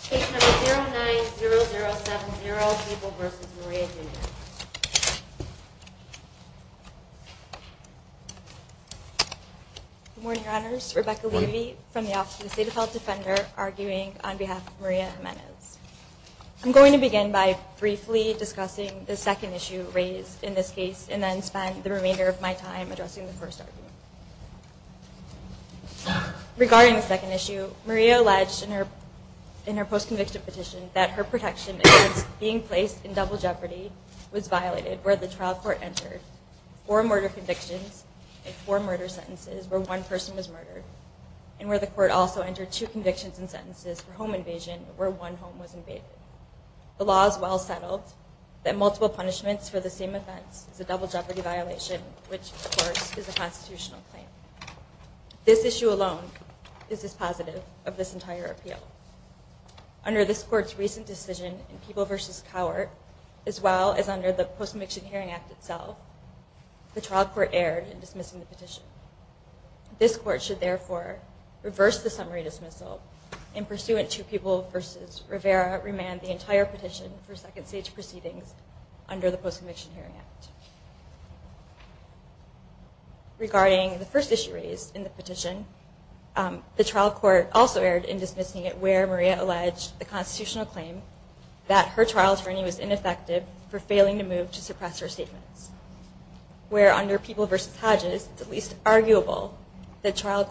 Case number 090070, Papal v. Maria Jimenez. Good morning, Your Honors. Rebecca Levy from the Office of the State of Health Defender, arguing on behalf of Maria Jimenez. I'm going to begin by briefly discussing the second issue raised in this case, and then spend the remainder of my time addressing the first argument. Regarding the second issue, Maria alleged in her post-conviction petition that her protection against being placed in double jeopardy was violated where the trial court entered four murder convictions and four murder sentences where one person was murdered, and where the court also entered two convictions and sentences for home invasion where one home was invaded. The law is well settled that multiple punishments for the same offense is a double jeopardy violation, which, of course, is a constitutional claim. This issue alone is dispositive of this entire appeal. Under this court's recent decision in People v. Cowart, as well as under the Post-Conviction Hearing Act itself, the trial court erred in dismissing the petition. This court should, therefore, reverse the summary dismissal in pursuant to People v. Rivera remand the entire petition for second stage proceedings under the Post-Conviction Hearing Act. Regarding the first issue raised in the petition, the trial court also erred in dismissing it where Maria alleged the constitutional claim that her trial attorney was ineffective for failing to move to suppress her statements, where under People v. Hodges it's at least arguable that trial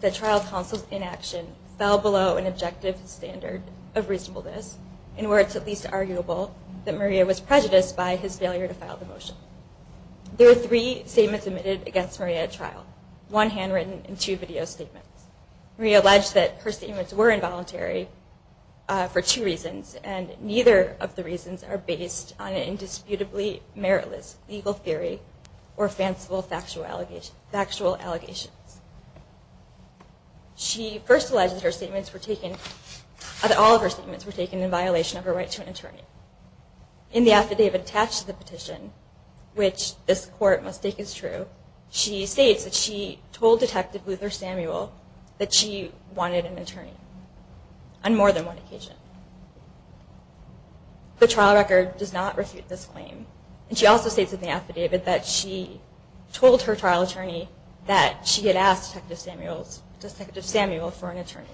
counsel's inaction fell below an objective standard of reasonableness, and where it's at least arguable that Maria was prejudiced by his failure to file the motion. There are three statements admitted against Maria at trial, one handwritten and two video statements. Maria alleged that her statements were involuntary for two reasons, and neither of the reasons are based on an indisputably meritless legal theory or fanciful factual allegations. She first alleged that all of her statements were taken in violation of her right to an attorney. In the affidavit attached to the petition, which this court must take as true, she states that she told Detective Luther Samuel that she wanted an attorney on more than one occasion. The trial record does not refute this claim. And she also states in the affidavit that she told her trial attorney that she had asked Detective Samuel for an attorney.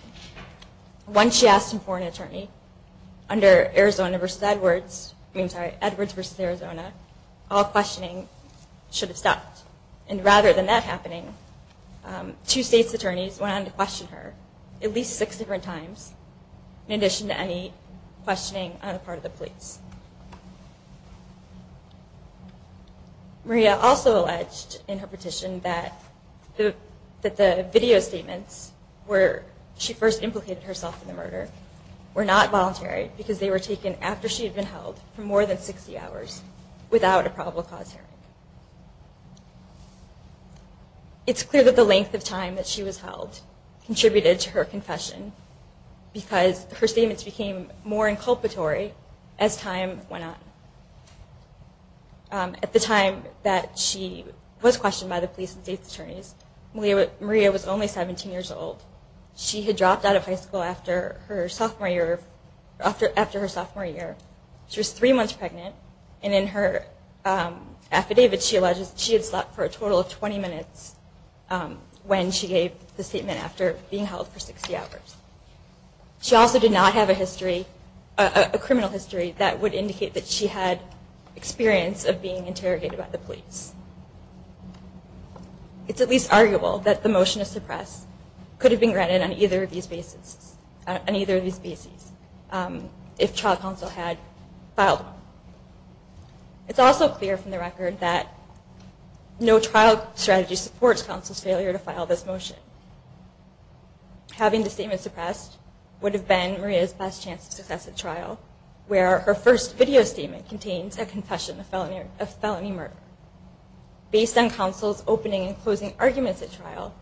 Once she asked him for an attorney, under Edwards v. Arizona, all questioning should have stopped. And rather than that happening, two state's attorneys went on to question her at least six different times in addition to any questioning on the part of the police. Maria also alleged in her petition that the video statements where she first implicated herself in the murder were not voluntary because they were taken after she had been held for more than 60 hours without a probable cause hearing. It's clear that the length of time that she was held contributed to her confession because her statements became more inculpatory as time went on. At the time that she was questioned by the police and state's attorneys, Maria was only 17 years old. She had dropped out of high school after her sophomore year. She was three months pregnant, and in her affidavit she alleged she had slept for a total of 20 minutes when she gave the statement after being held for 60 hours. She also did not have a criminal history that would indicate that she had experience of being interrogated by the police. It's at least arguable that the motion to suppress could have been granted on either of these bases if trial counsel had filed one. It's also clear from the record that no trial strategy supports counsel's failure to file this motion. Having the statement suppressed would have been Maria's best chance of success at trial where her first video statement contains a confession of felony murder. Based on counsel's opening and closing arguments at trial,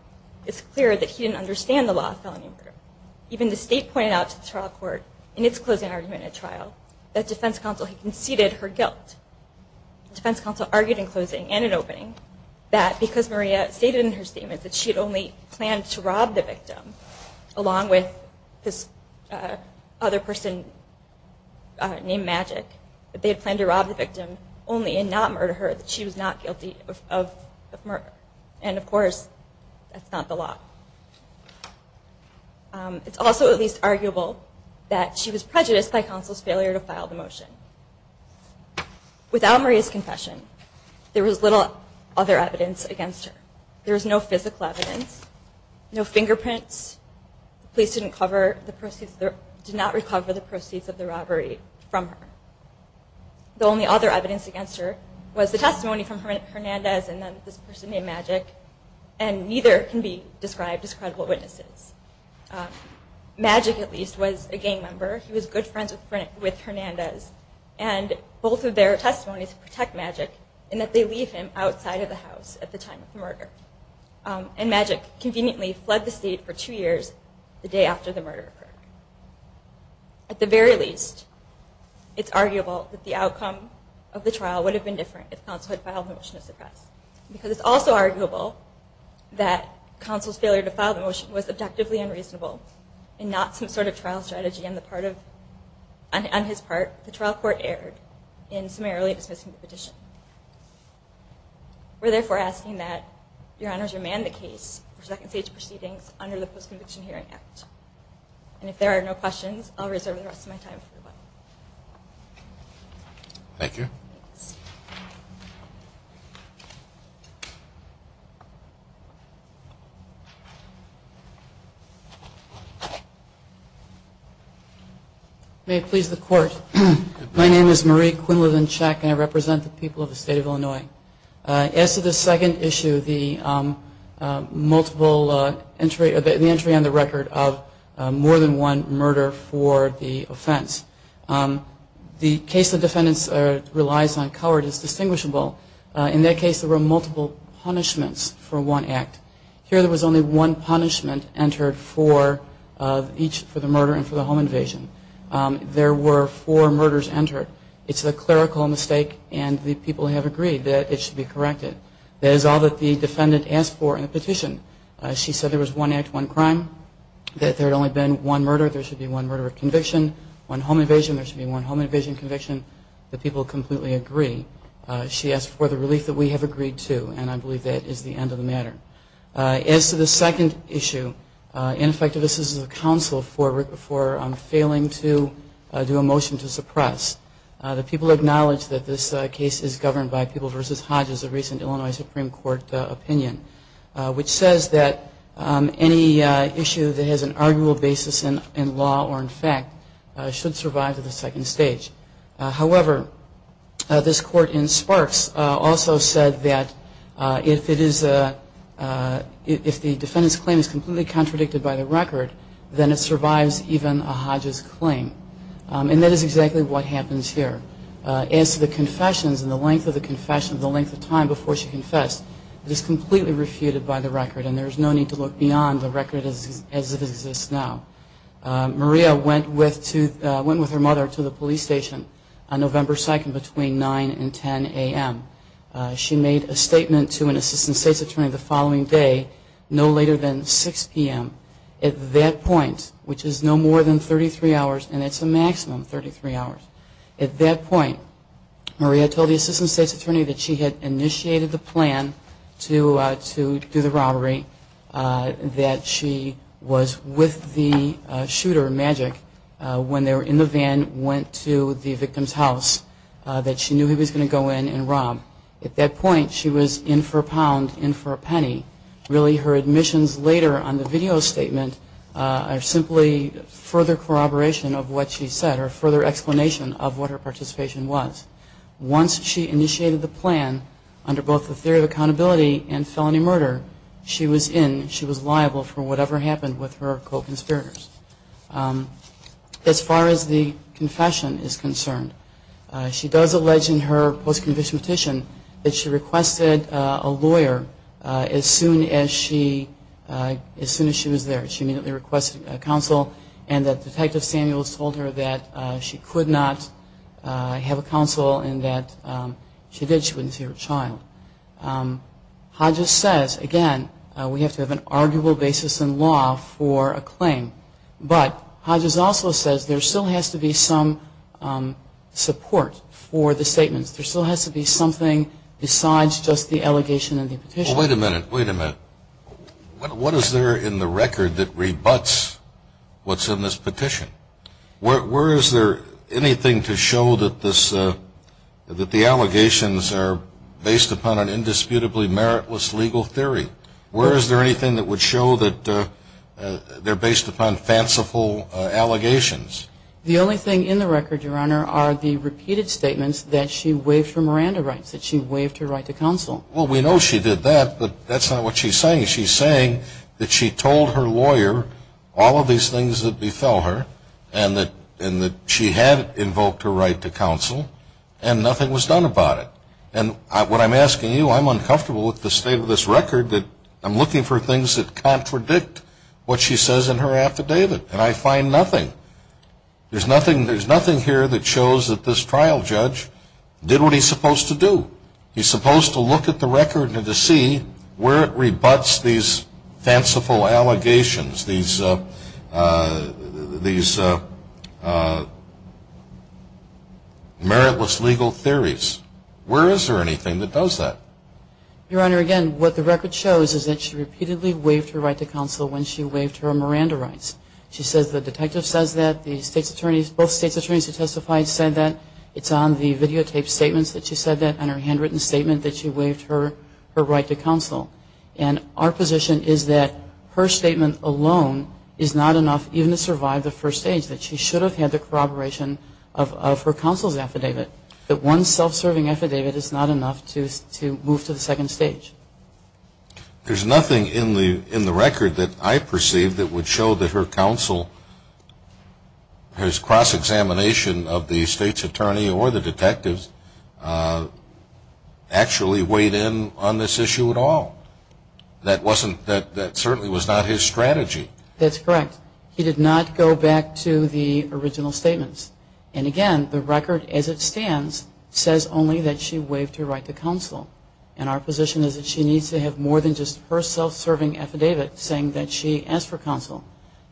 it's clear that he didn't understand the law of felony murder. Even the state pointed out to the trial court in its closing argument at trial that defense counsel had conceded her guilt. Defense counsel argued in closing and in opening that because Maria stated in her statement that she had only planned to rob the victim, along with this other person named Magic, that they had planned to rob the victim only and not murder her, that she was not guilty of murder. And, of course, that's not the law. It's also at least arguable that she was prejudiced by counsel's failure to file the motion. Without Maria's confession, there was little other evidence against her. There was no physical evidence, no fingerprints. The police did not recover the proceeds of the robbery from her. The only other evidence against her was the testimony from Hernandez and then this person named Magic, and neither can be described as credible witnesses. Magic, at least, was a gang member. He was good friends with Hernandez, and both of their testimonies protect Magic in that they leave him outside of the house at the time of the murder. And Magic conveniently fled the state for two years the day after the murder occurred. At the very least, it's arguable that the outcome of the trial would have been different if counsel had filed the motion to suppress, because it's also arguable that counsel's failure to file the motion was objectively unreasonable and not some sort of trial strategy on his part. The trial court erred in summarily dismissing the petition. We're therefore asking that Your Honors remand the case for second-stage proceedings under the Post-Conviction Hearing Act. And if there are no questions, I'll reserve the rest of my time for rebuttal. Thank you. May it please the Court. My name is Marie Quinlivan-Chek, and I represent the people of the state of Illinois. As to the second issue, the multiple entry on the record of more than one murder for the offense, the case the defendants relies on coward is distinguishable. In that case, there were multiple punishments for one act. Here there was only one punishment entered for each, for the murder and for the home invasion. There were four murders entered. It's a clerical mistake, and the people have agreed that it should be corrected. That is all that the defendant asked for in the petition. She said there was one act, one crime, that there had only been one murder, there should be one murder of conviction, one home invasion, there should be one home invasion conviction. The people completely agree. She asked for the relief that we have agreed to, and I believe that is the end of the matter. As to the second issue, ineffective assistance of counsel for failing to do a motion to suppress, the people acknowledge that this case is governed by People v. Hodges, a recent Illinois Supreme Court opinion, which says that any issue that has an arguable basis in law or in fact should survive to the second stage. However, this court in Sparks also said that if the defendant's claim is completely contradicted by the record, then it survives even a Hodges claim. And that is exactly what happens here. As to the confessions and the length of the confession, the length of time before she confessed, it is completely refuted by the record, and there is no need to look beyond the record as it exists now. Maria went with her mother to the police station on November 2nd between 9 and 10 a.m. She made a statement to an assistant state's attorney the following day, no later than 6 p.m. At that point, which is no more than 33 hours, and it's a maximum of 33 hours, at that point, Maria told the assistant state's attorney that she had initiated the plan to do the robbery, that she was with the shooter, Magic, when they were in the van, went to the victim's house, that she knew he was going to go in and rob. At that point, she was in for a pound, in for a penny. Really, her admissions later on the video statement are simply further corroboration of what she said and her further explanation of what her participation was. Once she initiated the plan, under both the theory of accountability and felony murder, she was in, she was liable for whatever happened with her co-conspirators. As far as the confession is concerned, she does allege in her post-conviction petition that she requested a lawyer as soon as she was there. She immediately requested counsel, and that Detective Samuels told her that she could not have a counsel and that if she did, she wouldn't see her child. Hodges says, again, we have to have an arguable basis in law for a claim, but Hodges also says there still has to be some support for the statements. There still has to be something besides just the allegation and the petition. Well, wait a minute, wait a minute. What is there in the record that rebuts what's in this petition? Where is there anything to show that this, that the allegations are based upon an indisputably meritless legal theory? Where is there anything that would show that they're based upon fanciful allegations? The only thing in the record, Your Honor, are the repeated statements that she waived her Miranda rights, that she waived her right to counsel. Well, we know she did that, but that's not what she's saying. She's saying that she told her lawyer all of these things that befell her and that she had invoked her right to counsel and nothing was done about it. And what I'm asking you, I'm uncomfortable with the state of this record that I'm looking for things that contradict what she says in her affidavit, and I find nothing. There's nothing here that shows that this trial judge did what he's supposed to do. He's supposed to look at the record and to see where it rebuts these fanciful allegations, these meritless legal theories. Where is there anything that does that? Your Honor, again, what the record shows is that she repeatedly waived her right to counsel when she waived her Miranda rights. She says the detective says that, the state's attorneys, both state's attorneys who testified said that. It's on the videotaped statements that she said that, on her handwritten statement that she waived her right to counsel. And our position is that her statement alone is not enough even to survive the first stage, that she should have had the corroboration of her counsel's affidavit. That one self-serving affidavit is not enough to move to the second stage. There's nothing in the record that I perceive that would show that her counsel has cross-examination of the state's attorney or the detectives actually weighed in on this issue at all. That certainly was not his strategy. That's correct. He did not go back to the original statements. And, again, the record as it stands says only that she waived her right to counsel. And our position is that she needs to have more than just her self-serving affidavit saying that she asked for counsel.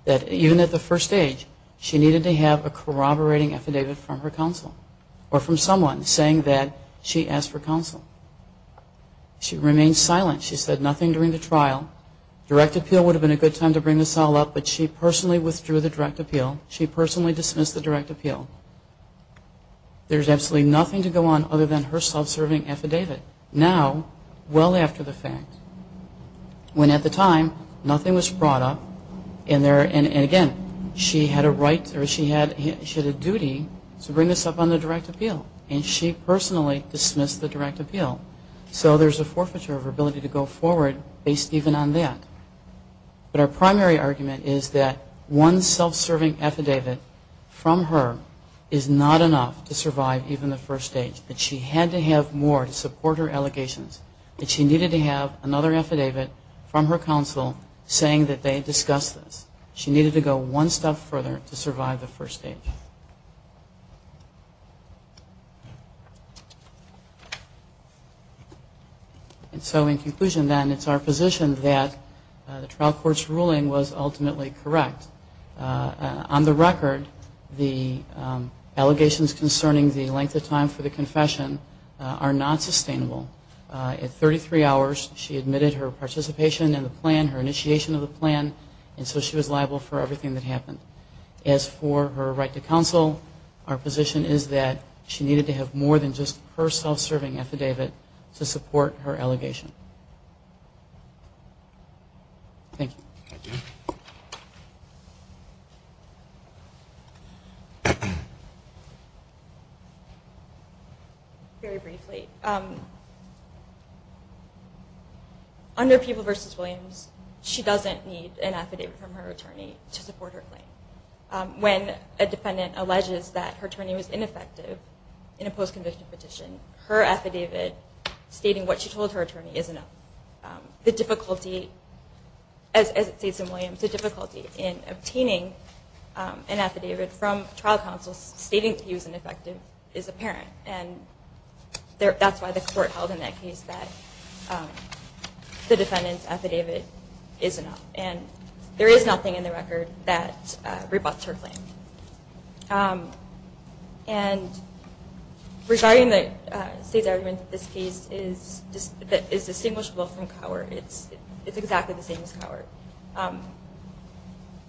Even at the first stage, she needed to have a corroborating affidavit from her counsel or from someone saying that she asked for counsel. She remained silent. She said nothing during the trial. Direct appeal would have been a good time to bring this all up, but she personally withdrew the direct appeal. She personally dismissed the direct appeal. There's absolutely nothing to go on other than her self-serving affidavit. Now, well after the fact, when at the time nothing was brought up and, again, she had a duty to bring this up on the direct appeal. And she personally dismissed the direct appeal. So there's a forfeiture of her ability to go forward based even on that. But our primary argument is that one self-serving affidavit from her is not enough to survive even the first stage, that she had to have more to support her allegations, that she needed to have another affidavit from her counsel saying that they discussed this. She needed to go one step further to survive the first stage. And so in conclusion, then, it's our position that the trial court's ruling was ultimately correct. On the record, the allegations concerning the length of time for the confession are not sustainable. At 33 hours, she admitted her participation in the plan, her initiation of the plan, and so she was liable for everything that happened. As for her right to counsel, our position is that she needed to have more than just her self-serving affidavit to support her allegation. Thank you. Very briefly, under Peeble v. Williams, she doesn't need an affidavit from her attorney to support her claim. When a defendant alleges that her attorney was ineffective in a post-conviction petition, her affidavit stating what she told her attorney is enough. The difficulty, as it states in Williams, the difficulty in obtaining an affidavit from trial counsel stating that he was ineffective is apparent. And that's why the court held in that case that the defendant's affidavit is enough. And there is nothing in the record that rebuts her claim. And regarding the state's argument that this case is distinguishable from Cowart, it's exactly the same as Cowart.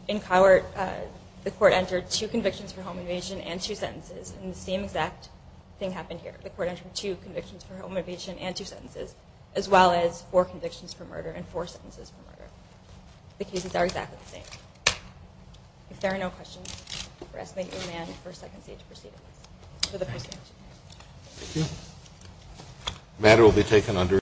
In Cowart, the court entered two convictions for home evasion and two sentences, and the same exact thing happened here. The court entered two convictions for home evasion and two sentences, as well as four convictions for murder and four sentences for murder. The cases are exactly the same. If there are no questions, we're asking that you amend the first and second stage proceedings for the post-conviction case. Thank you.